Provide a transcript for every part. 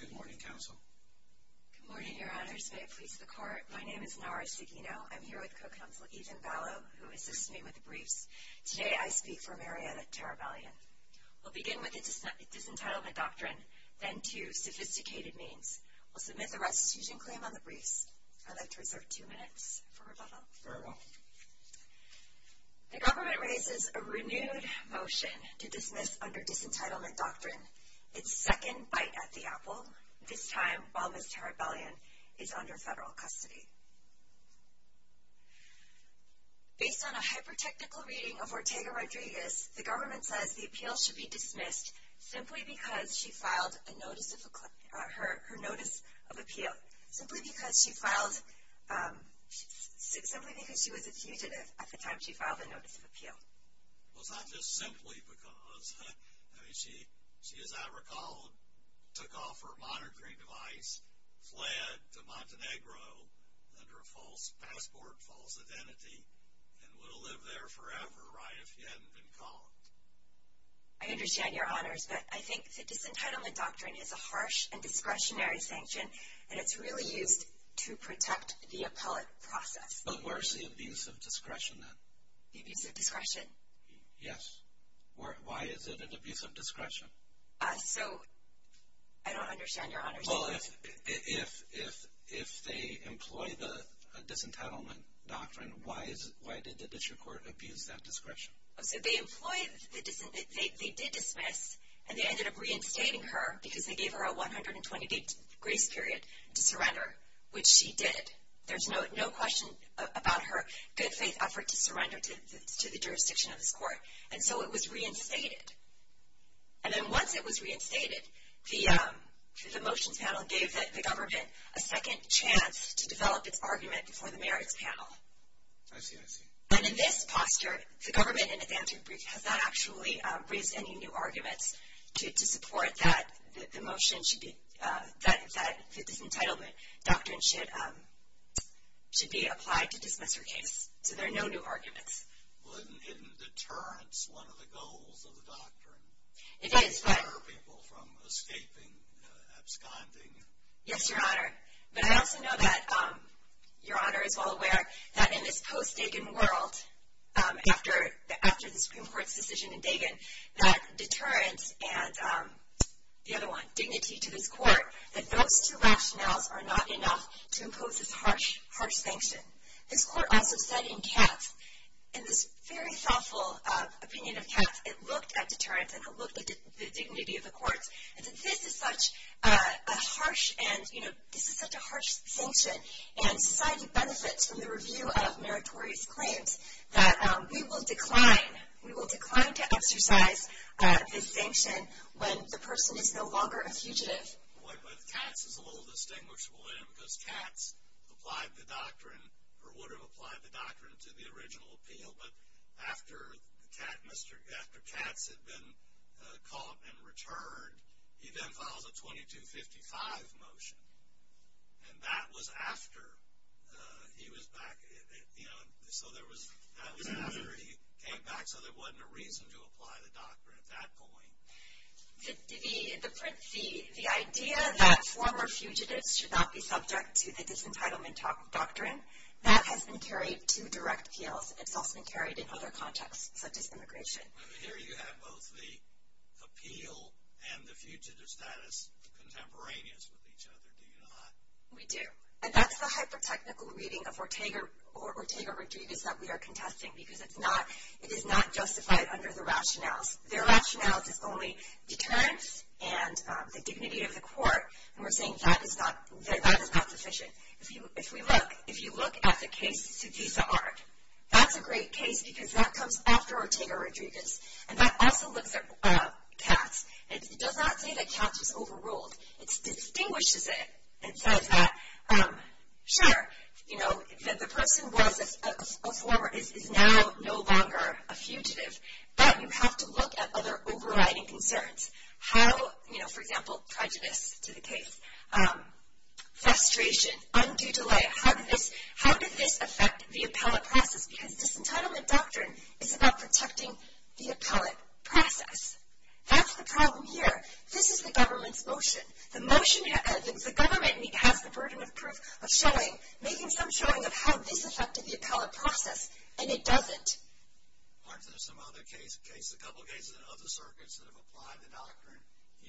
Good morning, Your Honors. May it please the Court, my name is Nara Seguino. I'm here with Co-Counsel Ethan Balow, who assists me with the briefs. Today I speak for Marietta Terabelian. We'll begin with the Disentitlement Doctrine, then two sophisticated means. We'll submit the restitution claim on the briefs. I'd like to reserve two minutes for rebuttal. Very well. The government raises a renewed motion to dismiss under Disentitlement Doctrine its second bite at the apple, this time while Ms. Terabelian is under federal custody. Based on a hyper-technical reading of Ortega-Rodriguez, the government says the appeal should be dismissed simply because she was a fugitive at the time she filed her Notice of Appeal. I understand, Your Honors, but I think the Disentitlement Doctrine is a harsh and discretionary sanction, and it's really used to protect the appellate process. But where's the abuse of discretion, then? The abuse of discretion? Yes. Why is it an abuse of discretion? So, I don't understand, Your Honors. Well, if they employ the Disentitlement Doctrine, why did the district court abuse that discretion? So, they did dismiss, and they ended up reinstating her because they gave her a 120-day grace period to surrender, which she did. There's no question about her good-faith effort to surrender to the jurisdiction of this court, and so it was reinstated. And then once it was reinstated, the motions panel gave the government a second chance to develop its argument before the merits panel. I see, I see. And in this posture, the government, in its answer brief, has not actually raised any new Disentitlement Doctrine should be applied to dismiss her case. So, there are no new arguments. Well, isn't deterrence one of the goals of the doctrine? It is, but... To deter people from escaping, absconding. Yes, Your Honor. But I also know that, Your Honor is well aware, that in this post-Dagen world, after the Supreme Court's decision in Dagen, that deterrence and, the other one, dignity to this panel are not enough to impose this harsh, harsh sanction. This court also said in Katz, in this very thoughtful opinion of Katz, it looked at deterrence and it looked at the dignity of the courts, and said this is such a harsh, and, you know, this is such a harsh sanction, and society benefits from the review of meritorious claims, that we will decline, we will decline to exercise this sanction when the person is no longer a fugitive. But Katz is a little distinguishable in it, because Katz applied the doctrine, or would have applied the doctrine to the original appeal, but after Katz had been caught and returned, he then files a 2255 motion. And that was after he was back, you know, so that was after he came back, so there wasn't a reason to apply the doctrine at that point. The idea that former fugitives should not be subject to the disentitlement doctrine, that has been carried to direct appeals. It's also been carried in other contexts, such as immigration. Here you have both the appeal and the fugitive status contemporaneous with each other, do you not? We do. And that's the hyper-technical reading of Ortega or Ortega Rodriguez that we are contesting, because it's not, it is not justified under the rationales. The rationales is only deterrence and the dignity of the court, and we're saying that is not sufficient. If we look, if you look at the case Sudisa Art, that's a great case because that comes after Ortega Rodriguez. And that also looks at Katz. It does not say that Katz is overruled. It distinguishes it and says that, sure, you know, the person was a former, is now no longer a fugitive, but you have to look at other overriding concerns. How, you know, for example, prejudice to the case, frustration, undue delay. How did this affect the appellate process? Because disentitlement doctrine is about protecting the appellate process. That's the problem here. This is the government's motion. The motion, the government has the burden of proof, of showing, making some showing of how this affected the appellate process, and it doesn't. Aren't there some other cases, a couple of cases in other circuits that have applied the doctrine,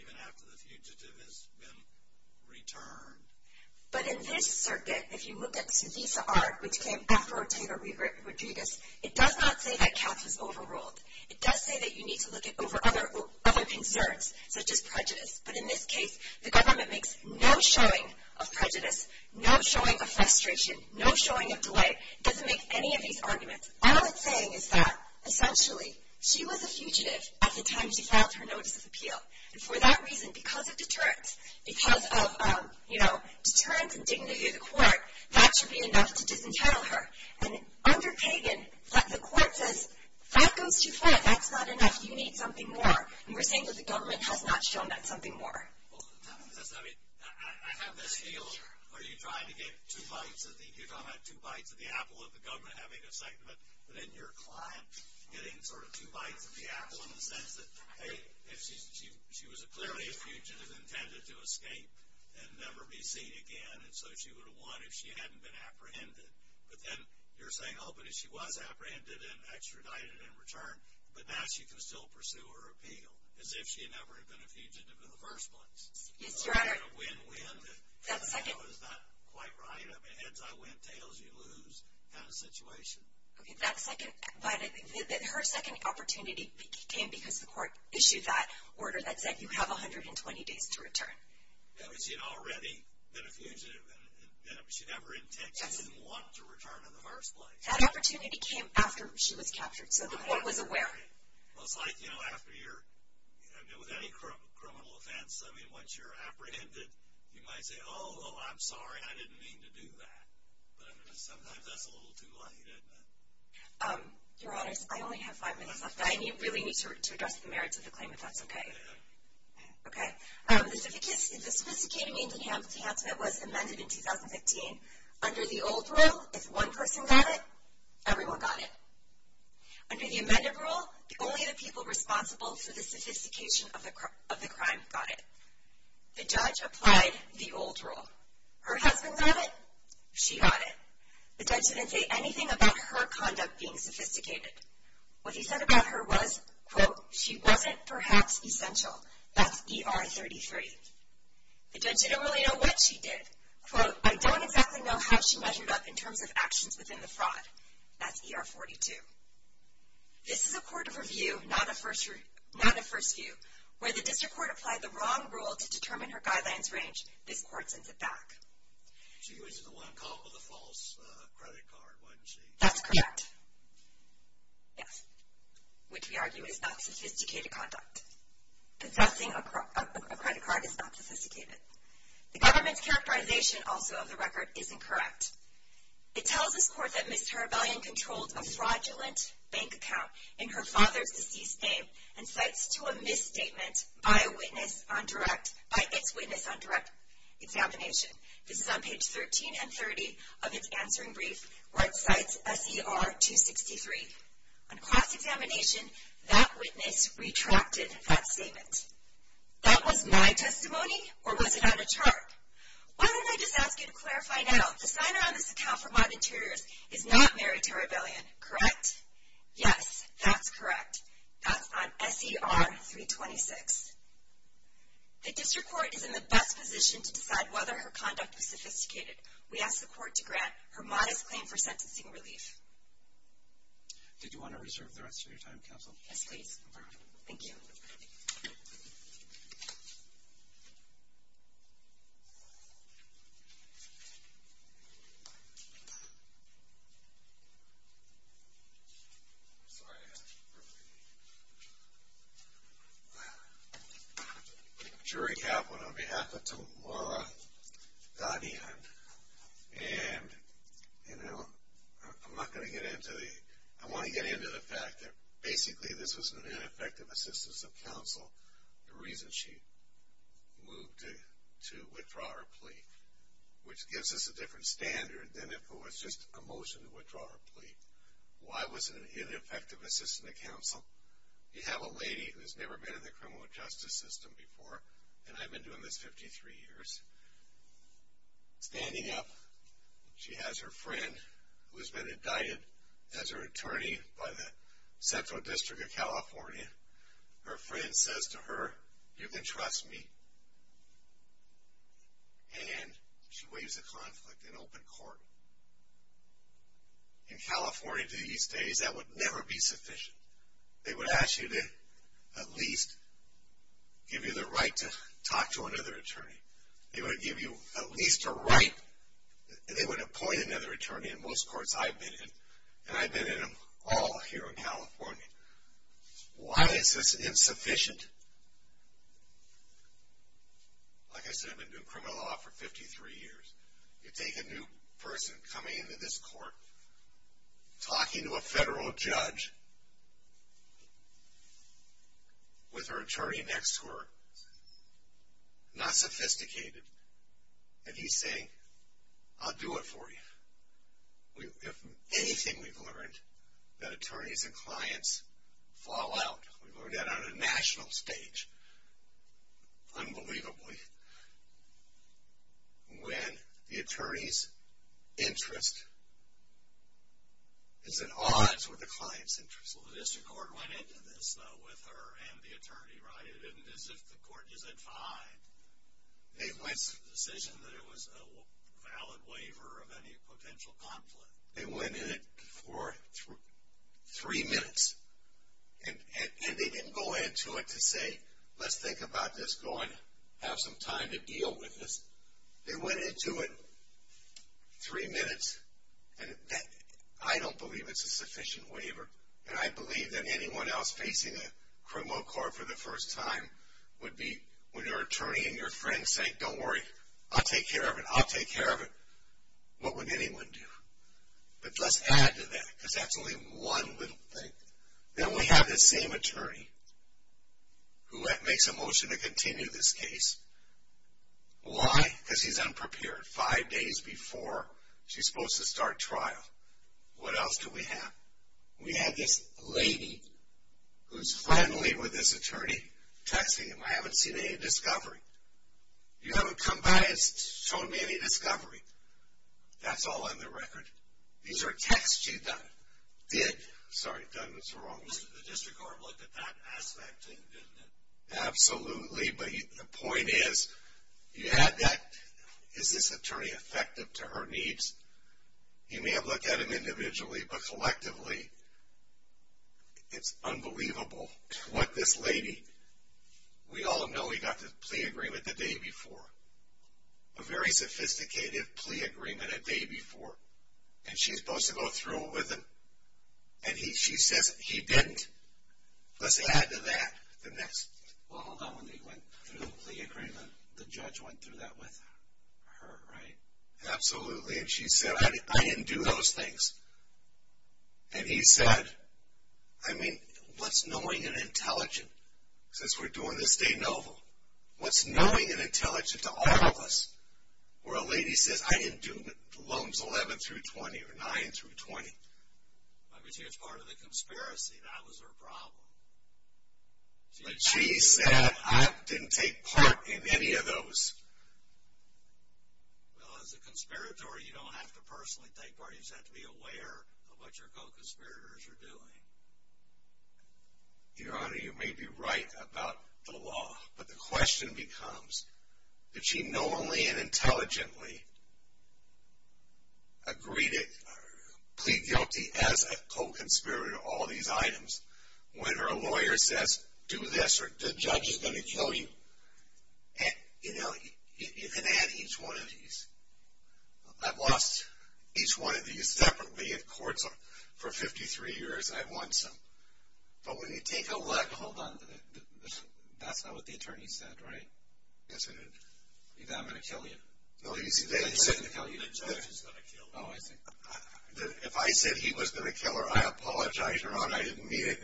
even after the fugitive has been returned? But in this circuit, if you look at Sudisa Art, which came after Ortega Rodriguez, it does not say that Katz was overruled. It does say that you need to look at other concerns, such as prejudice. But in this case, the government makes no showing of prejudice, no showing of frustration, no showing of delay. It doesn't make any of these arguments. All it's saying is that, essentially, she was a fugitive at the time she filed her notice of appeal. And for that reason, because of deterrence, because of, you know, deterrence and dignity of the court, that should be enough to disentitle her. And under Pagan, the court says, that goes too far. That's not enough. You need something more. And we're saying that the government has not shown that something more. Well, I mean, I have this feeling, are you trying to get two bites of the – you're talking about two bites of the apple of the government having a segment, but then your client getting sort of two bites of the apple in the sense that, hey, if she was clearly a fugitive intended to escape and never be seen again, and so she would have won if she hadn't been apprehended. But then you're saying, oh, but if she was apprehended and extradited in return, but now she can still pursue her appeal as if she had never been a fugitive in the first place. Yes, Your Honor. A win-win that was not quite right. I mean, heads-I-win, tails-you-lose kind of situation. Okay. That second – but her second opportunity came because the court issued that order that said you have 120 days to return. That means she had already been a fugitive, and she never intended – she didn't want to return in the first place. That opportunity came after she was captured, so the court was aware. Well, it's like, you know, after you're – with any criminal offense, I mean, once you're apprehended, you might say, oh, I'm sorry, I didn't mean to do that. But sometimes that's a little too late, isn't it? Your Honors, I only have five minutes left, and I really need to address the merits of the claim, if that's okay. Okay. Okay. The sophisticated Indian Hanselman was amended in 2015. Under the old rule, if one person got it, everyone got it. Under the amended rule, only the people responsible for the sophistication of the crime got it. The judge applied the old rule. Her husband got it. She got it. The judge didn't say anything about her conduct being sophisticated. What he said about her was, quote, She wasn't, perhaps, essential. That's ER 33. The judge didn't really know what she did. Quote, I don't exactly know how she measured up in terms of actions within the fraud. That's ER 42. This is a court of review, not a first view. Where the district court applied the wrong rule to determine her guidelines range, this court sends it back. She was the one caught with a false credit card, wasn't she? That's correct. Yes. Which we argue is not sophisticated conduct. Possessing a credit card is not sophisticated. The government's characterization, also, of the record is incorrect. It tells this court that Ms. Tarabellian controlled a fraudulent bank account in her father's deceased name and cites to a misstatement by a witness on direct, by its witness on direct examination. This is on page 13 and 30 of its answering brief, where it cites SER 263. On cross-examination, that witness retracted that statement. That was my testimony, or was it on a chart? Why don't I just ask you to clarify now. The signer on this account for Modern Interiors is not Mary Tarabellian, correct? Yes, that's correct. That's on SER 326. The district court is in the best position to decide whether her conduct was sophisticated. We ask the court to grant her modest claim for sentencing relief. Did you want to reserve the rest of your time, counsel? Yes, please. Thank you. I'm sorry. I'm Jerry Caplan on behalf of Tomara Ghanian, and, you know, I'm not going to get into the, I want to get into the fact that basically this was an ineffective assistance of counsel, the reason she moved to withdraw her plea, which gives us a different standard than if it was just a motion to withdraw her plea. Why was it an ineffective assistance of counsel? You have a lady who has never been in the criminal justice system before, and I've been doing this 53 years. Standing up, she has her friend who has been indicted as her attorney by the Central District of California. Her friend says to her, you can trust me, and she waives the conflict in open court. In California these days, that would never be sufficient. They would ask you to at least give you the right to talk to another attorney. They would give you at least a right, and they would appoint another attorney, in most courts I've been in, and I've been in them all here in California. Why is this insufficient? Like I said, I've been doing criminal law for 53 years. You take a new person coming into this court, talking to a federal judge, with her attorney next to her, not sophisticated, and he's saying, I'll do it for you. If anything we've learned, that attorneys and clients fall out. We've learned that on a national stage. Unbelievably, when the attorney's interest is at odds with the client's interest. Well, the district court went into this, though, with her and the attorney, right? It isn't as if the court isn't fine. They went to the decision that it was a valid waiver of any potential conflict. They went into it for three minutes, and they didn't go into it to say, let's think about this, go and have some time to deal with this. They went into it three minutes, and I don't believe it's a sufficient waiver, and I believe that anyone else facing a criminal court for the first time would be, when your attorney and your friend say, don't worry, I'll take care of it, I'll take care of it, what would anyone do? But let's add to that, because that's only one little thing. Then we have this same attorney who makes a motion to continue this case. Why? Because he's unprepared, five days before she's supposed to start trial. What else do we have? We have this lady who's friendly with this attorney, texting him, I haven't seen any discovery. You haven't come by and shown me any discovery. That's all on the record. These are texts she did. Sorry, I've done this wrong. The district court looked at that aspect and didn't it? Absolutely, but the point is, you had that, is this attorney effective to her needs? You may have looked at him individually, but collectively, it's unbelievable what this lady, we all know he got the plea agreement the day before, a very sophisticated plea agreement a day before, and she's supposed to go through it with him, and she says, he didn't. Let's add to that. Well, hold on, when he went through the plea agreement, the judge went through that with her, right? Absolutely, and she said, I didn't do those things. And he said, I mean, what's knowing and intelligent? Since we're doing this de novo, what's knowing and intelligent to all of us, where a lady says, I didn't do loans 11 through 20 or 9 through 20? I mean, see, it's part of the conspiracy. That was her problem. But she said, I didn't take part in any of those. Well, as a conspirator, you don't have to personally take part. You just have to be aware of what your co-conspirators are doing. Your Honor, you may be right about the law, but the question becomes, did she knowingly and intelligently agree to plead guilty as a co-conspirator to all these items, when her lawyer says, do this or the judge is going to kill you? And, you know, you can add each one of these. I've lost each one of these separately in courts for 53 years, and I've won some. But when you take a look. Hold on. That's not what the attorney said, right? Yes, it is. He said, I'm going to kill you. No, he said. The judge is going to kill you. Oh, I see. If I said he was going to kill her, I apologize, Your Honor. I didn't mean it.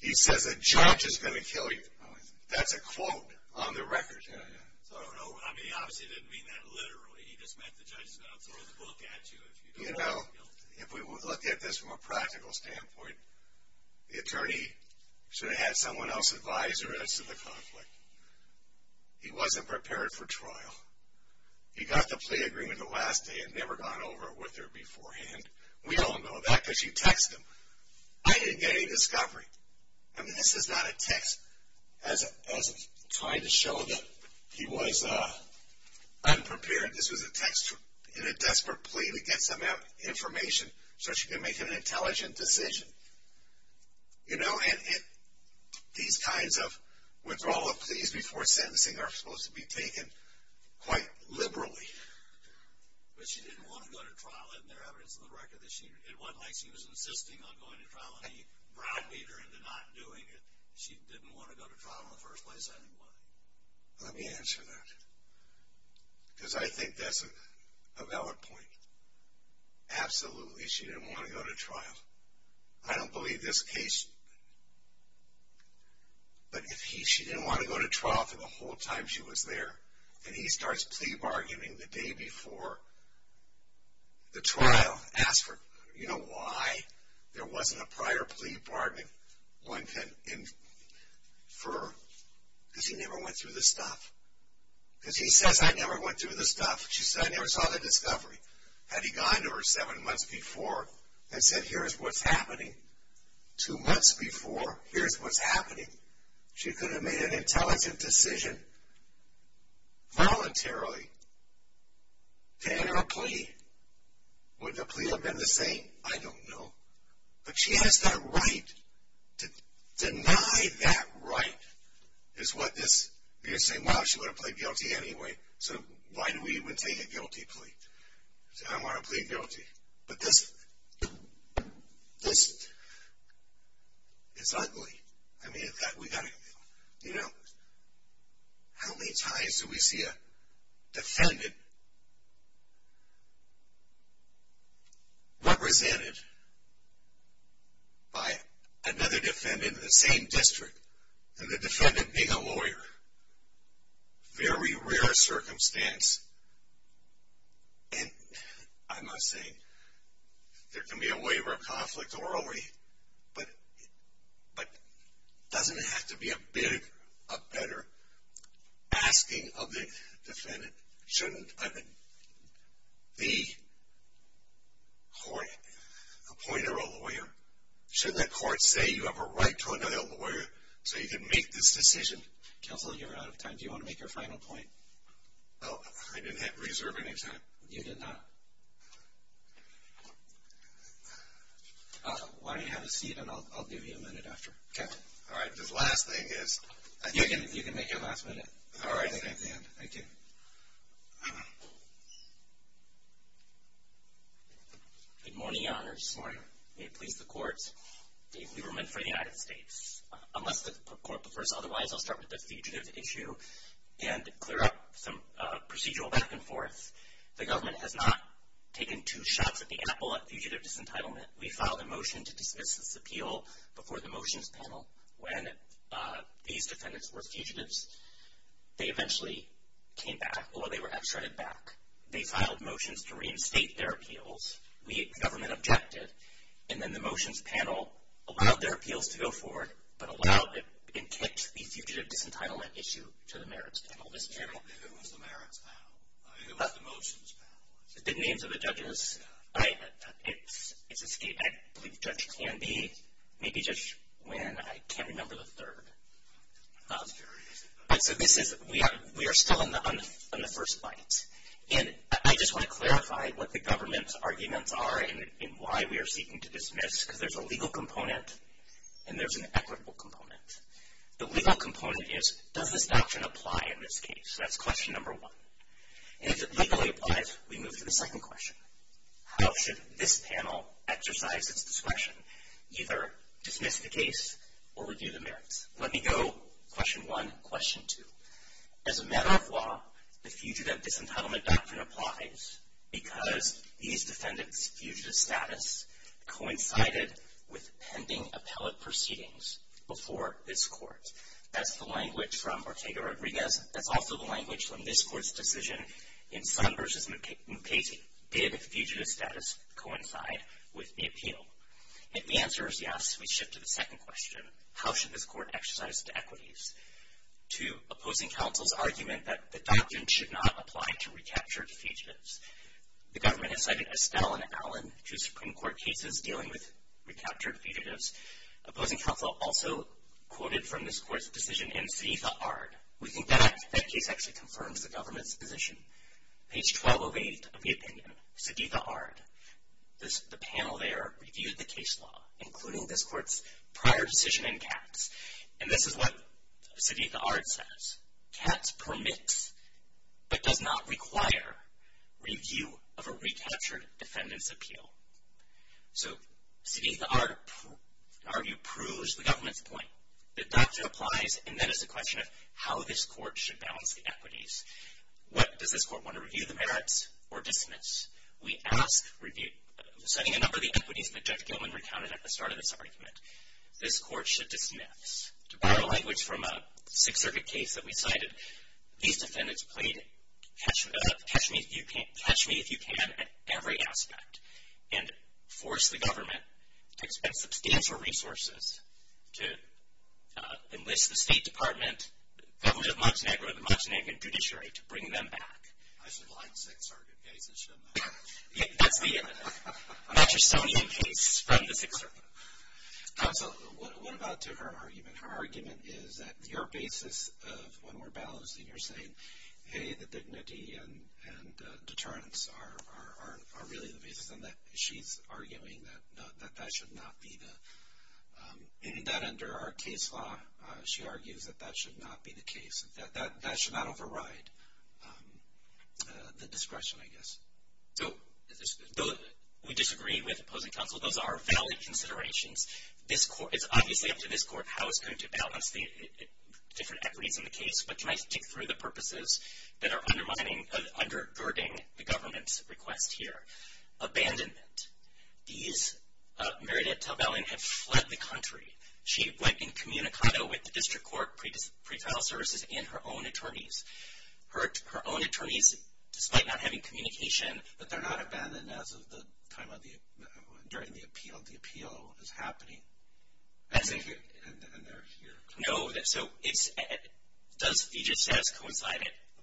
He says, a judge is going to kill you. That's a quote on the record. I don't know. I mean, he obviously didn't mean that literally. He just meant the judge is going to throw the book at you if you don't plead guilty. You know, if we look at this from a practical standpoint, the attorney should have had someone else advise her as to the conflict. He wasn't prepared for trial. He got the plea agreement the last day and never gone over it with her beforehand. We all know that because you text him. I didn't get any discovery. I mean, this is not a text. I was trying to show that he was unprepared. This was a text in a desperate plea to get some information so she could make an intelligent decision. You know, and these kinds of withdrawal of pleas before sentencing are supposed to be taken quite liberally. But she didn't want to go to trial. Isn't there evidence on the record that she did? It wasn't like she was insisting on going to trial and he browbeated her into not doing it. She didn't want to go to trial in the first place anyway. Let me answer that because I think that's a valid point. Absolutely she didn't want to go to trial. I don't believe this case. But if she didn't want to go to trial for the whole time she was there and he starts plea bargaining the day before the trial, ask her, you know why? There wasn't a prior plea bargaining. One can infer because she never went through the stuff. Because she says, I never went through the stuff. She said, I never saw the discovery. Had he gone to her seven months before and said, here's what's happening, two months before, here's what's happening, she could have made an intelligent decision voluntarily to enter a plea. Would the plea have been the same? I don't know. But she has that right to deny that right is what this, you're going to say, well, she's going to plead guilty anyway, so why do we even take a guilty plea? I'm going to plead guilty. But this, this is ugly. I mean, we've got to, you know, how many times do we see a defendant represented by another defendant in the same district and the defendant being a lawyer? Very rare circumstance. And I'm not saying there can be a waiver of conflict or already, but doesn't it have to be a better asking of the defendant? Shouldn't the court appoint her a lawyer? Shouldn't the court say you have a right to another lawyer so you can make this decision? Counselor, you're out of time. Do you want to make your final point? I didn't have reserve any time. You did not. Why don't you have a seat and I'll give you a minute after. Okay. All right. This last thing is. You can make your last minute. All right. Thank you. Good morning, Your Honors. Good morning. May it please the Court, we were meant for the United States. Unless the Court prefers otherwise, I'll start with the fugitive issue and clear up some procedural back and forth. The government has not taken two shots at the apple at fugitive disentitlement. We filed a motion to dismiss this appeal before the motions panel. When these defendants were fugitives, they eventually came back, or they were extradited back. They filed motions to reinstate their appeals. The government objected. And then the motions panel allowed their appeals to go forward and kicked the fugitive disentitlement issue to the merits panel. Who is the merits panel? I mean, who are the motions panel? The names of the judges. I believe the judge can be. Maybe just when. I can't remember the third. So we are still on the first bite. And I just want to clarify what the government's arguments are and why we are seeking to dismiss, because there's a legal component and there's an equitable component. The legal component is, does this doctrine apply in this case? That's question number one. And if it legally applies, we move to the second question. How should this panel exercise its discretion? Either dismiss the case or review the merits. Let me go question one, question two. As a matter of law, the fugitive disentitlement doctrine applies because these defendants' fugitive status coincided with pending appellate proceedings before this court. That's the language from Ortega-Rodriguez. That's also the language from this court's decision in Sun v. Mukasey. Did fugitive status coincide with the appeal? If the answer is yes, we shift to the second question. How should this court exercise its equities? To opposing counsel's argument that the doctrine should not apply to recaptured fugitives. The government has cited Estelle and Allen, two Supreme Court cases, dealing with recaptured fugitives. Opposing counsel also quoted from this court's decision in Sadiqa Ard. We think that case actually confirms the government's position. Page 1208 of the opinion, Sadiqa Ard. The panel there reviewed the case law, including this court's prior decision in Katz. And this is what Sadiqa Ard says. Katz permits but does not require review of a recaptured defendant's appeal. So Sadiqa Ard, in our view, proves the government's point. The doctrine applies, and then it's a question of how this court should balance the equities. Does this court want to review the merits or dismiss? We ask, citing a number of the equities that Judge Gilman recounted at the start of this argument, this court should dismiss. To borrow language from a Sixth Circuit case that we cited, these defendants played catch me if you can at every aspect and forced the government to expend substantial resources to enlist the State Department, the government of Montenegro, the Montenegrin judiciary to bring them back. I should like Sixth Circuit cases, shouldn't I? That's the Mattersonian case from the Sixth Circuit. Counsel, what about to her argument? Her argument is that your basis of when we're balancing, you're saying, hey, the dignity and deterrence are really the basis, and that she's arguing that that should not be the – that under our case law, she argues that that should not be the case, that that should not override the discretion, I guess. So we disagree with opposing counsel. Those are valid considerations. It's obviously up to this court how it's going to balance the different equities in the case, but can I stick through the purposes that are undermining, undergirding the government's request here? Abandonment. These – Meredith Talbellin had fled the country. She went incommunicado with the district court, pretrial services, and her own attorneys. Her own attorneys, despite not having communication, but they're not abandoned as of the time of the – during the appeal. The appeal is happening, and they're here. No, so it's – does Feejit's status coincide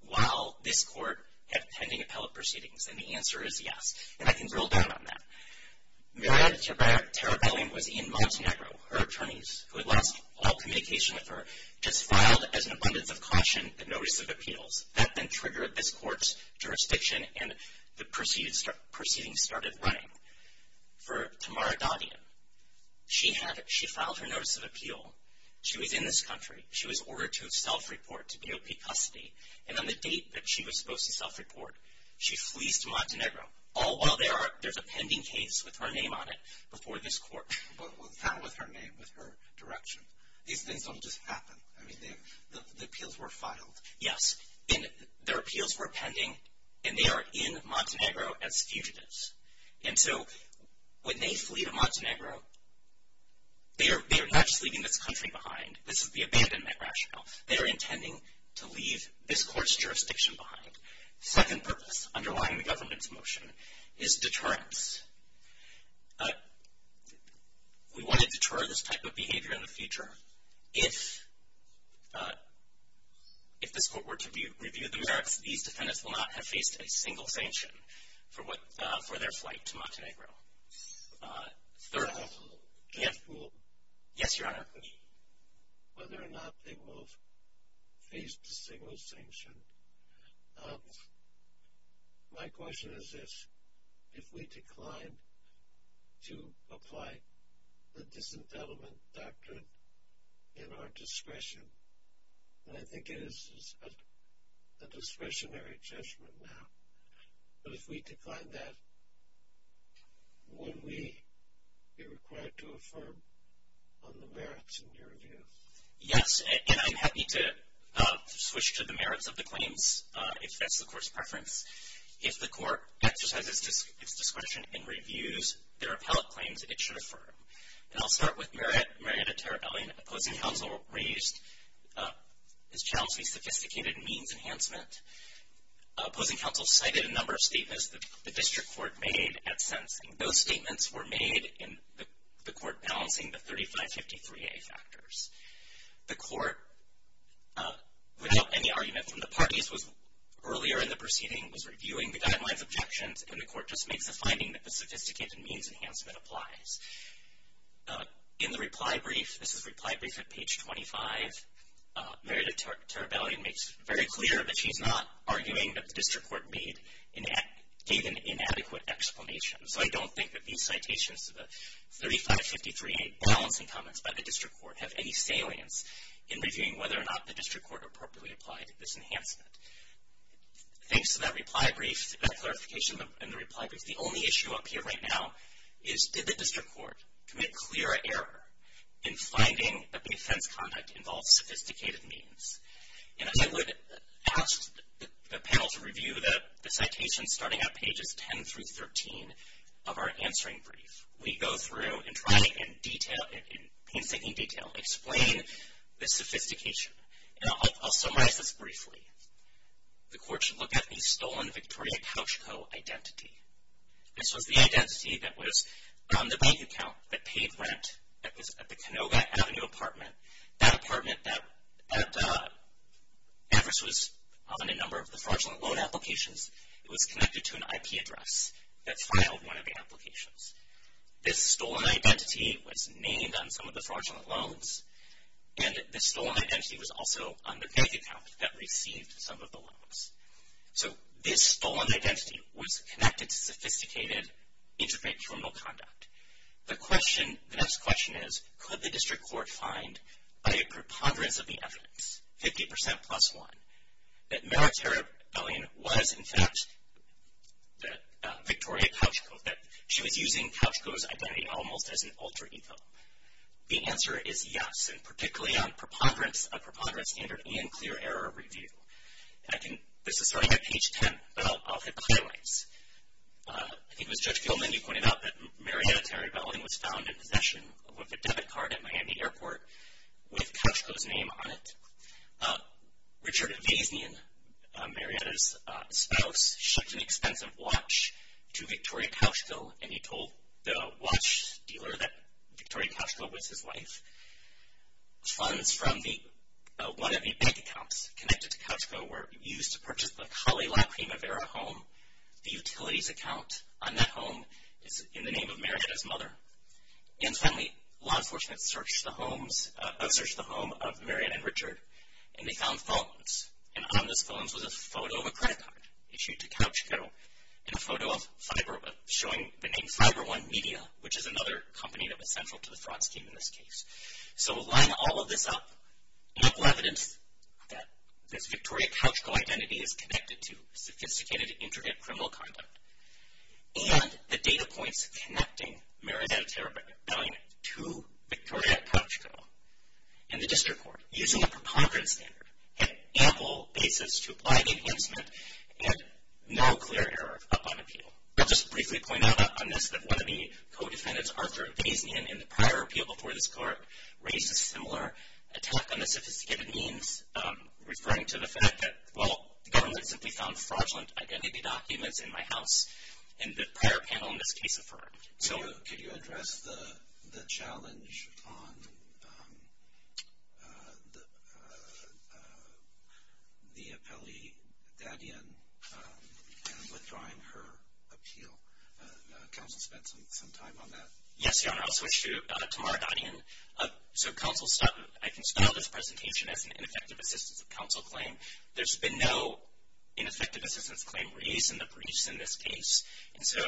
while this court had pending appellate proceedings? And the answer is yes. And I can drill down on that. Meredith Talbellin was in Montenegro. Her attorneys, who had lost all communication with her, just filed as an abundance of caution the notice of appeals. That then triggered this court's jurisdiction, and the proceedings started running. For Tamara Doddian, she had – she filed her notice of appeal. She was in this country. She was ordered to self-report to DOP custody. And on the date that she was supposed to self-report, she flees to Montenegro, all while there's a pending case with her name on it before this court. But what's happened with her name, with her direction? These things don't just happen. I mean, the appeals were filed. Yes, and their appeals were pending, and they are in Montenegro as fugitives. And so when they flee to Montenegro, they are not just leaving this country behind. This is the abandonment rationale. They are intending to leave this court's jurisdiction behind. Second purpose underlying the government's motion is deterrence. Therefore, if this court were to review the merits, these defendants will not have faced a single sanction for their flight to Montenegro. Third. Yes, Your Honor. Whether or not they will have faced a single sanction, my question is this. If we decline to apply the disendowment doctrine in our discretion, then I think it is a discretionary judgment now. But if we decline that, would we be required to affirm on the merits in your view? Yes, and I'm happy to switch to the merits of the claims if that's the court's preference. If the court exercises its discretion and reviews their appellate claims, it should affirm. And I'll start with Marietta Terrellian. Opposing counsel raised this challenging sophisticated means enhancement. Opposing counsel cited a number of statements the district court made at sentencing. Those statements were made in the court balancing the 3553A factors. The court, without any argument from the parties, was earlier in the proceeding, was reviewing the guidelines objections, and the court just makes the finding that the sophisticated means enhancement applies. In the reply brief, this is reply brief at page 25, Marietta Terrellian makes very clear that she's not arguing that the district court gave an inadequate explanation. So I don't think that these citations to the 3553A balancing comments by the district court have any salience in reviewing whether or not the district court appropriately applied this enhancement. Thanks to that reply brief, that clarification in the reply brief, the only issue up here right now is did the district court commit clearer error in finding that the offense conduct involved sophisticated means? And as I would ask the panel to review the citations starting at pages 10 through 13 of our answering brief, we go through and try to in detail, in painstaking detail, explain the sophistication. And I'll summarize this briefly. The court should look at the stolen Victoria Couch Co. identity. This was the identity that was on the bank account, that paid rent, that was at the Canoga Avenue apartment. That apartment at Everest was on a number of the fraudulent loan applications. It was connected to an IP address that filed one of the applications. This stolen identity was named on some of the fraudulent loans, and this stolen identity was also on the bank account that received some of the loans. So this stolen identity was connected to sophisticated, intricate criminal conduct. The question, the next question is, could the district court find by a preponderance of the evidence, 50% plus one, that Maritara Bellion was, in fact, that Victoria Couch Co., that she was using Couch Co.'s identity almost as an alter ego? The answer is yes, and particularly on a preponderance standard and clear error review. This is starting at page 10, but I'll hit the highlights. I think it was Judge Goldman who pointed out that Maritara Bellion was found in possession of a debit card at Miami Airport with Couch Co.'s name on it. Richard Vazian, Maritara's spouse, shipped an expensive watch to Victoria Couch Co., and he told the watch dealer that Victoria Couch Co. was his wife. Funds from one of the bank accounts connected to Couch Co. were used to purchase the Kali Lacrimavera home. The utilities account on that home is in the name of Maritara's mother. And finally, law enforcement searched the home of Marian and Richard, and they found phones. And on those phones was a photo of a credit card issued to Couch Co. and a photo showing the name FiberOne Media, which is another company that was central to the fraud scheme in this case. So lining all of this up, ample evidence that this Victoria Couch Co. identity is connected to sophisticated intricate criminal conduct, and the data points connecting Maritara Bellion to Victoria Couch Co. in the district court, using a preponderant standard, had ample basis to apply the enhancement, and no clear error up on appeal. I'll just briefly point out on this that one of the co-defendants, Arthur Vazian, in the prior appeal before this court, raised a similar attack on the sophisticated means, referring to the fact that, well, the government simply found fraudulent identity documents in my house, and the prior panel in this case affirmed. So could you address the challenge on the appellee, Dadian, withdrawing her appeal? Counsel spent some time on that. Yes, Your Honor, I'll switch to Tamara Dadian. So counsel, I can spell this presentation as an ineffective assistance of counsel claim. There's been no ineffective assistance claim raised in the briefs in this case, and so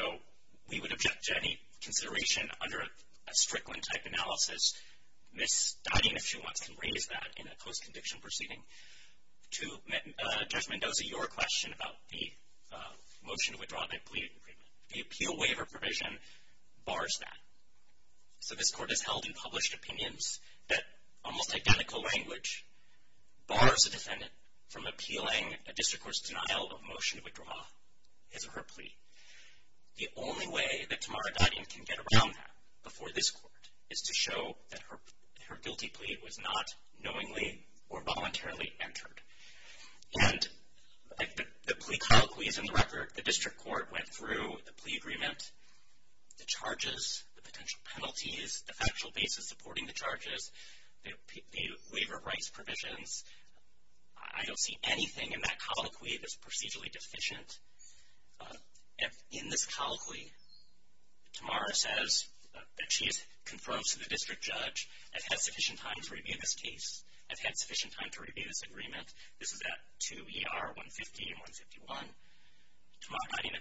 we would object to any consideration under a Strickland-type analysis. Ms. Dadian, if she wants, can raise that in a post-conviction proceeding. To Judge Mendoza, your question about the motion to withdraw that plea agreement. The appeal waiver provision bars that. So this court has held in published opinions that almost identical language bars a defendant from appealing a district court's denial of motion to withdraw his or her plea. The only way that Tamara Dadian can get around that before this court is to show that her guilty plea was not knowingly or voluntarily entered. And the plea colloquy is in the record. The district court went through the plea agreement, the charges, the potential penalties, the factual basis supporting the charges, the waiver of rights provisions. I don't see anything in that colloquy that's procedurally deficient. In this colloquy, Tamara says that she has confirmed to the district judge I've had sufficient time to review this case. I've had sufficient time to review this agreement. This is at 2 ER 150 and 151. Tamara Dadian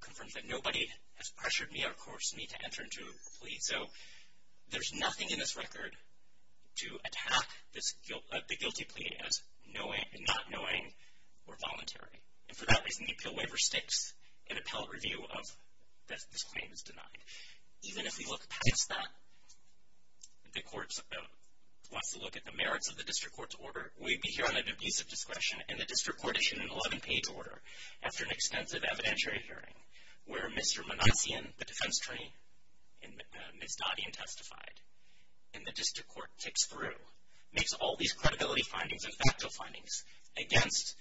confirms that nobody has pressured me or coerced me to enter into a plea. So there's nothing in this record to attack the guilty plea as not knowing or voluntary. And for that reason, the appeal waiver sticks in appellate review of that this claim is denied. Even if we look past that, the court wants to look at the merits of the district court's order. We'd be hearing an abusive discretion, and the district court issued an 11-page order after an extensive evidentiary hearing where Mr. Manassian, the defense attorney, and Ms. Dadian testified. And the district court ticks through, makes all these credibility findings and factual findings against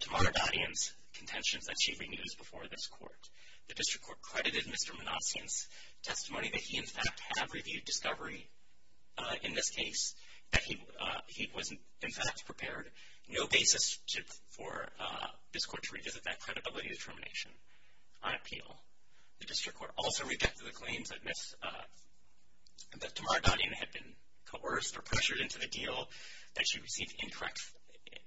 Tamara Dadian's contentions that she reused before this court. The district court credited Mr. Manassian's testimony that he, in fact, had reviewed discovery in this case, that he was, in fact, prepared. No basis for this court to revisit that credibility determination on appeal. The district court also rejected the claims that Tamara Dadian had been coerced or pressured into the deal that she received incorrect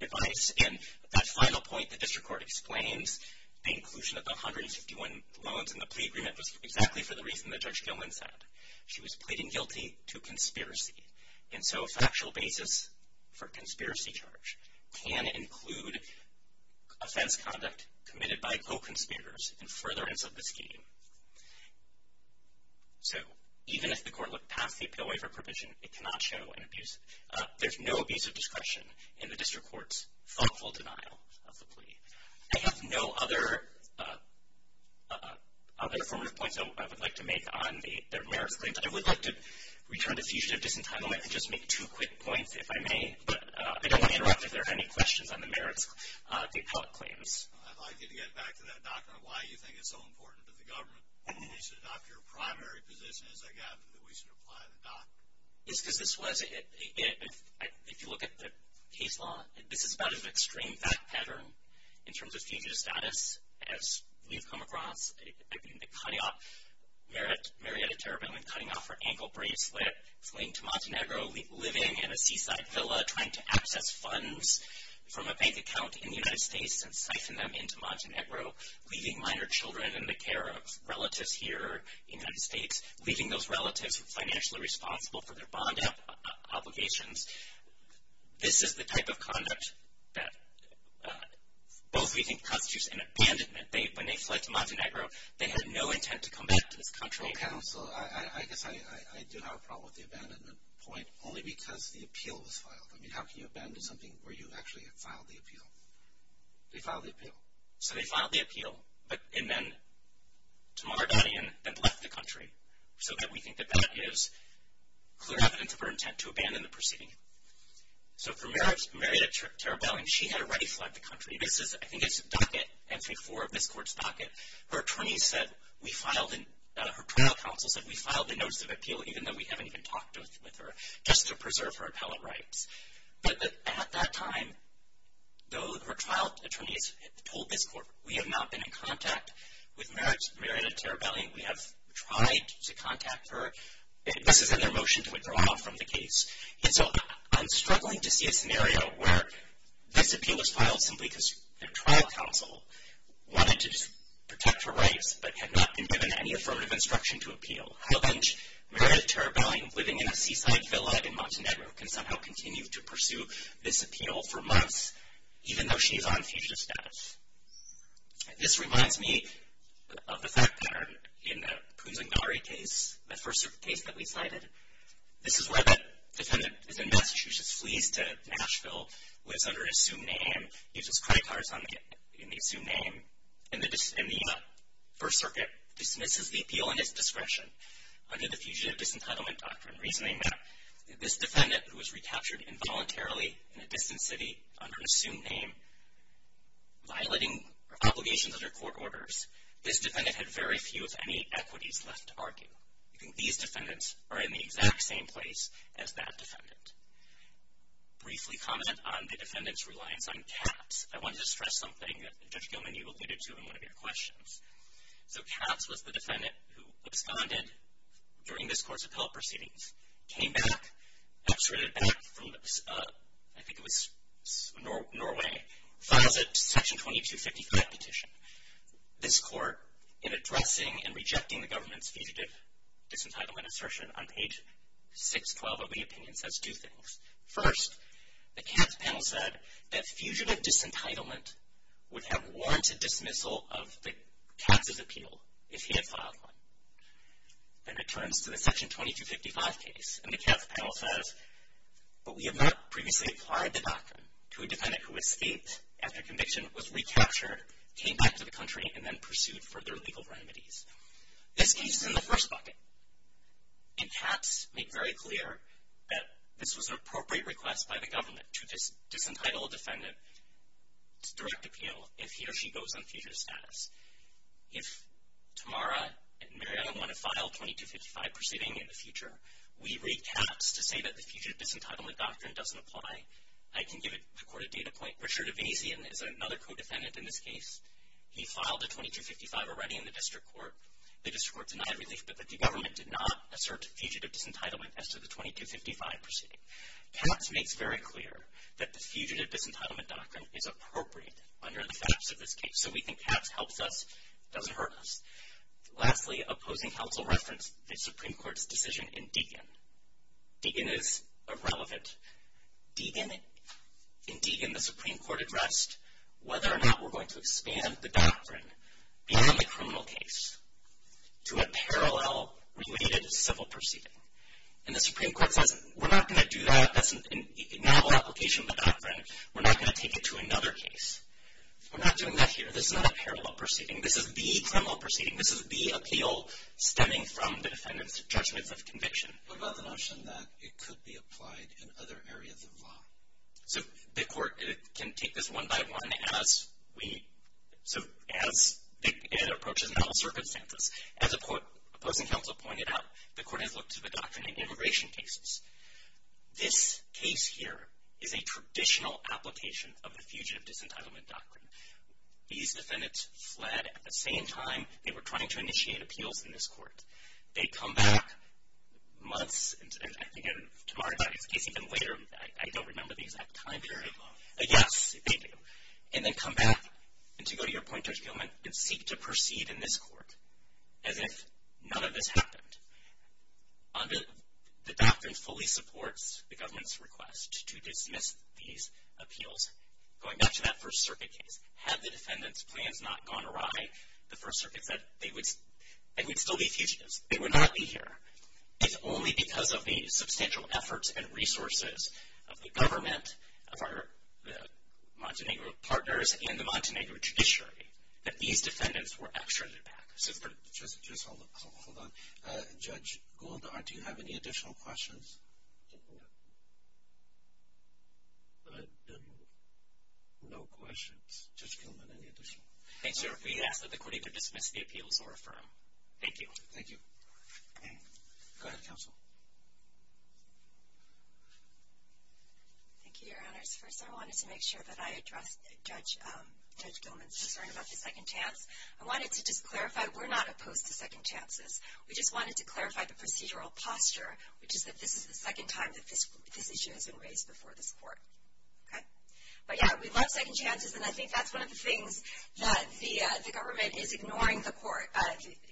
advice. And that final point, the district court explains the inclusion of the 151 loans in the plea agreement was exactly for the reason that Judge Gilman said. She was pleading guilty to conspiracy. And so a factual basis for a conspiracy charge can include offense conduct committed by co-conspirators in furtherance of the scheme. So even if the court looked past the appeal waiver provision, it cannot show an abuse. of discretion in the district court's thoughtful denial of the plea. I have no other affirmative points I would like to make on the merits claims. I would like to return to fugitive disentanglement and just make two quick points, if I may. But I don't want to interrupt if there are any questions on the merits, the appellate claims. I'd like you to get back to that document on why you think it's so important to the government that we should adopt your primary position, as I gather, that we should apply the document. Because this was, if you look at the case law, this is about an extreme fact pattern in terms of fugitive status, as we've come across. I mean, the cutting off, Marietta Terrible in cutting off her ankle bracelet, fleeing to Montenegro, living in a seaside villa, trying to access funds from a bank account in the United States and siphon them into Montenegro, leaving minor children in the care of relatives here in the United States, leaving those relatives financially responsible for their bond obligations. This is the type of conduct that both we think constitutes an abandonment. When they fled to Montenegro, they had no intent to come back to this country. Well, counsel, I guess I do have a problem with the abandonment point, only because the appeal was filed. I mean, how can you abandon something where you actually had filed the appeal? They filed the appeal. So they filed the appeal, and then Tamara got in and left the country, so that we think that that is clear evidence of her intent to abandon the proceeding. So for Marietta Terrible, and she had already fled the country. This is, I think it's a docket, entry four of this court's docket. Her attorneys said we filed, her criminal counsel said we filed a notice of appeal, even though we haven't even talked with her, just to preserve her appellate rights. But at that time, though her trial attorneys told this court, we have not been in contact with Marietta Terrible. We have tried to contact her. This is in their motion to withdraw from the case. And so I'm struggling to see a scenario where this appeal was filed simply because their trial counsel wanted to protect her rights, but had not been given any affirmative instruction to appeal. How then, Marietta Terrible, living in a seaside villa in Montenegro, can somehow continue to pursue this appeal for months, even though she is on fugitive status? This reminds me of the fact pattern in the Puzangari case, the First Circuit case that we cited. This is where that defendant is in Massachusetts, flees to Nashville, lives under an assumed name, uses credit cards in the assumed name, and the First Circuit dismisses the appeal in its discretion under the Fugitive Disentitlement Doctrine, reasoning that this defendant, who was recaptured involuntarily in a distant city under an assumed name, violating obligations under court orders, this defendant had very few, if any, equities left to argue. These defendants are in the exact same place as that defendant. Briefly comment on the defendant's reliance on caps. I wanted to stress something that Judge Gilman, you alluded to in one of your questions. So caps was the defendant who absconded during this court's appellate proceedings, came back, extradited back from, I think it was Norway, files a Section 2255 petition. This court, in addressing and rejecting the government's Fugitive Disentitlement assertion on page 612 of the opinion, says two things. First, the caps panel said that Fugitive Disentitlement would have warranted dismissal of the caps' appeal if he had filed one. Then it turns to the Section 2255 case, and the caps panel says, but we have not previously applied the doctrine to a defendant who escaped after conviction, was recaptured, came back to the country, and then pursued further legal remedies. This case is in the first bucket. And caps make very clear that this was an appropriate request by the government to disentitle a defendant to direct appeal if he or she goes on Fugitive Status. If Tamara and Mariana want to file 2255 proceeding in the future, we read caps to say that the Fugitive Disentitlement doctrine doesn't apply. I can give the court a data point. Richard Avazian is another co-defendant in this case. He filed a 2255 already in the district court. The district court denied relief, but the government did not assert Fugitive Disentitlement as to the 2255 proceeding. Caps makes very clear that the Fugitive Disentitlement doctrine is appropriate under the facts of this case. So we think caps helps us, doesn't hurt us. Lastly, opposing counsel referenced the Supreme Court's decision in Deegan. Deegan is irrelevant. In Deegan, the Supreme Court addressed whether or not we're going to expand the doctrine beyond the criminal case to a parallel related civil proceeding. And the Supreme Court says, we're not going to do that. That's a novel application of the doctrine. We're not going to take it to another case. We're not doing that here. This is not a parallel proceeding. This is the criminal proceeding. This is the appeal stemming from the defendant's judgment of conviction. What about the notion that it could be applied in other areas of law? So the court can take this one by one as we, so as it approaches novel circumstances. As opposing counsel pointed out, the court has looked to the doctrine in immigration cases. This case here is a traditional application of the Fugitive Disentitlement doctrine. These defendants fled at the same time they were trying to initiate appeals in this court. They come back months, I think in Tamari's case, even later, I don't remember the exact time period. Very long. Yes, they do. And then come back to go to your point, Judge Gilman, and seek to proceed in this court as if none of this happened. The doctrine fully supports the government's request to dismiss these appeals. Going back to that First Circuit case, had the defendant's plans not gone awry, the First Circuit said they would still be fugitives. They would not be here. It's only because of the substantial efforts and resources of the government, of our Montenegro partners, and the Montenegro judiciary that these defendants were extradited back. Just hold on. Judge Gouldard, do you have any additional questions? No questions. Judge Gilman, any additional? We ask that the court either dismiss the appeals or affirm. Thank you. Thank you. Go ahead, counsel. Thank you, Your Honors. First, I wanted to make sure that I addressed Judge Gilman's concern about the second chance. I wanted to just clarify, we're not opposed to second chances. We just wanted to clarify the procedural posture, which is that this is the second time that this issue has been raised before this court. Okay? But, yeah, we love second chances, and I think that's one of the things that the government is ignoring the court,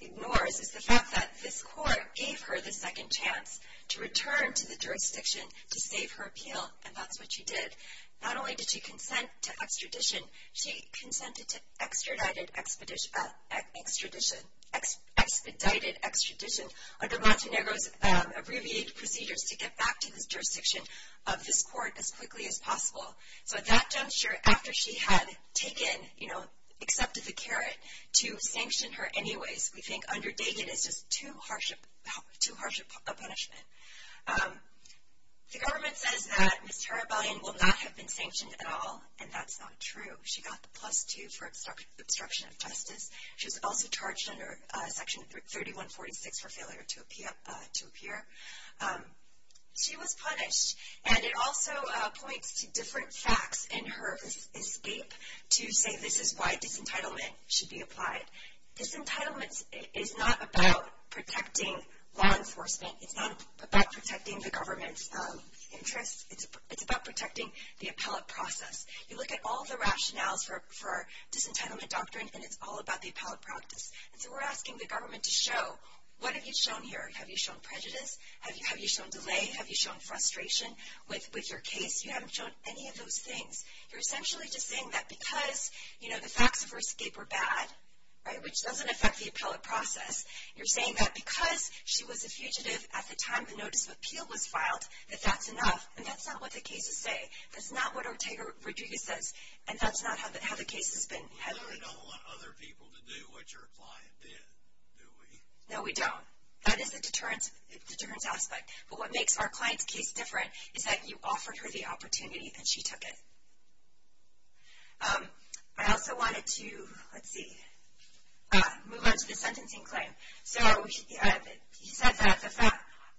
ignores, is the fact that this court gave her the second chance to return to the jurisdiction to save her appeal, and that's what she did. Not only did she consent to extradition, she consented to expedited extradition under Montenegro's abbreviated procedures to get back to this jurisdiction of this court as quickly as possible. So at that juncture, after she had taken, you know, accepted the carrot to sanction her anyways, we think under Dagan it's just too harsh a punishment. The government says that Ms. Tarabayan will not have been sanctioned at all, and that's not true. She got the plus two for obstruction of justice. She was also charged under Section 3146 for failure to appear. She was punished, and it also points to different facts in her escape to say this is why disentitlement should be applied. Disentitlement is not about protecting law enforcement. It's not about protecting the government's interests. It's about protecting the appellate process. You look at all the rationales for disentitlement doctrine, and it's all about the appellate practice. And so we're asking the government to show, what have you shown here? Have you shown prejudice? Have you shown delay? Have you shown frustration with your case? You haven't shown any of those things. You're essentially just saying that because, you know, the facts of her escape were bad, right, which doesn't affect the appellate process, you're saying that because she was a fugitive at the time the notice of appeal was filed, that that's enough, and that's not what the cases say. That's not what Ortega-Rodriguez says, and that's not how the case has been handled. We don't want other people to do what your client did, do we? No, we don't. That is the deterrence aspect. But what makes our client's case different is that you offered her the opportunity, and she took it. I also wanted to, let's see, move on to the sentencing claim. So he said that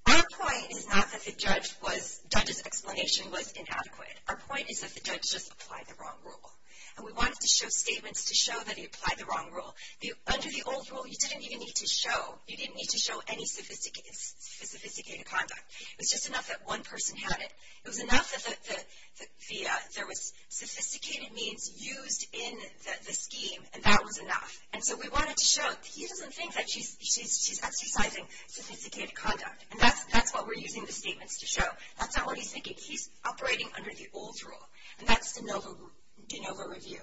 our point is not that the judge's explanation was inadequate. Our point is that the judge just applied the wrong rule, and we wanted to show statements to show that he applied the wrong rule. Under the old rule, you didn't even need to show, you didn't need to show any sophisticated conduct. It was just enough that one person had it. It was enough that there was sophisticated means used in the scheme, and that was enough. And so we wanted to show that he doesn't think that she's exercising sophisticated conduct, and that's what we're using the statements to show. That's not what he's thinking. He's operating under the old rule, and that's de novo review.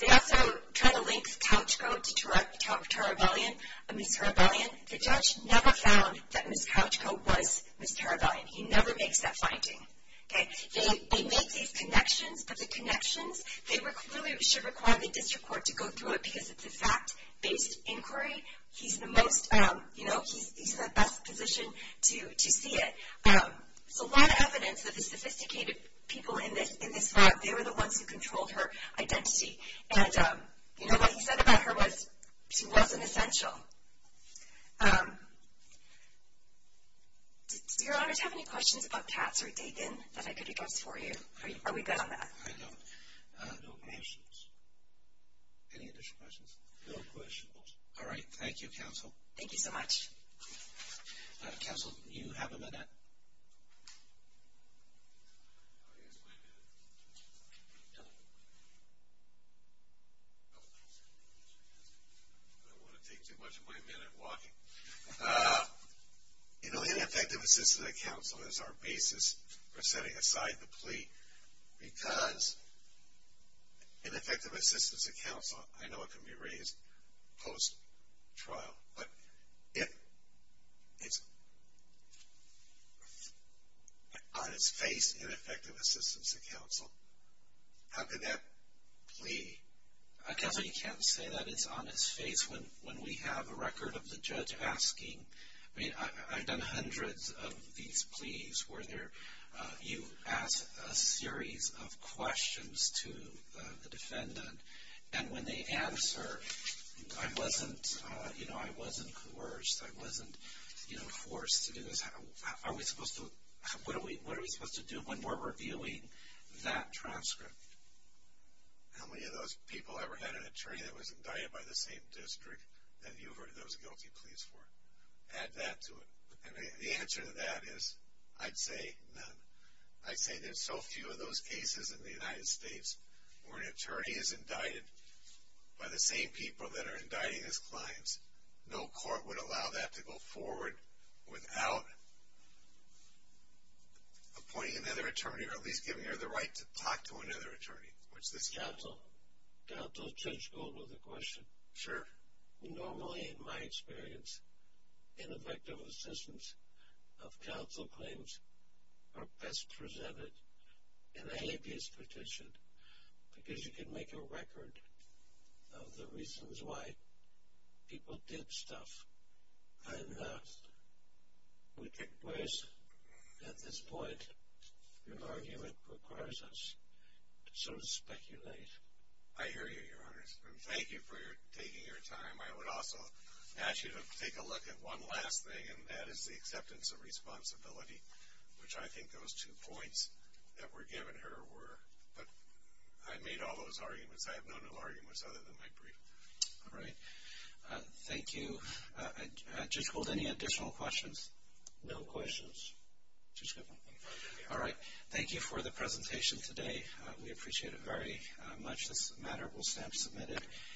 They also try to link Couchco to Ms. Tarabellion. The judge never found that Ms. Couchco was Ms. Tarabellion. He never makes that finding. They made these connections, but the connections, they clearly should require the district court to go through it because it's a fact-based inquiry. He's the most, you know, he's in the best position to see it. There's a lot of evidence that the sophisticated people in this lab, they were the ones who controlled her identity. And, you know, what he said about her was she wasn't essential. Do Your Honors have any questions about Katz or Dagan that I could address for you? Are we good on that? I don't. No questions. Any additional questions? No questions. All right. Thank you, Counsel. Thank you so much. Counsel, you have a minute. I don't want to take too much of my minute walking. You know, ineffective assistance of counsel is our basis for setting aside the plea because ineffective assistance of counsel, I know it can be raised post-trial, but if it's on its face, ineffective assistance of counsel, how can that plea? Counsel, you can't say that it's on its face when we have a record of the judge asking. I mean, I've done hundreds of these pleas where you ask a series of questions to the defendant, and when they answer, I wasn't, you know, I wasn't coerced. I wasn't, you know, forced to do this. What are we supposed to do when we're reviewing that transcript? How many of those people ever had an attorney that was indicted by the same district that you heard those guilty pleas for? Add that to it. And the answer to that is I'd say none. I'd say there's so few of those cases in the United States where an attorney is indicted by the same people that are indicting his clients. No court would allow that to go forward without appointing another attorney or at least giving her the right to talk to another attorney, which this is. Counsel, counsel, judge Gold with a question. Sure. Normally, in my experience, ineffective assistance of counsel claims are best presented in a habeas petition because you can make a record of the reasons why people did stuff. And we get worse at this point. An argument requires us to sort of speculate. I hear you, Your Honors. Thank you for taking your time. I would also ask you to take a look at one last thing, and that is the acceptance of responsibility, which I think those two points that were given here were. But I made all those arguments. I have no new arguments other than my brief. All right. Thank you. Judge Gold, any additional questions? No questions. All right. Thank you for the presentation today. We appreciate it very much. This matter will stand submitted.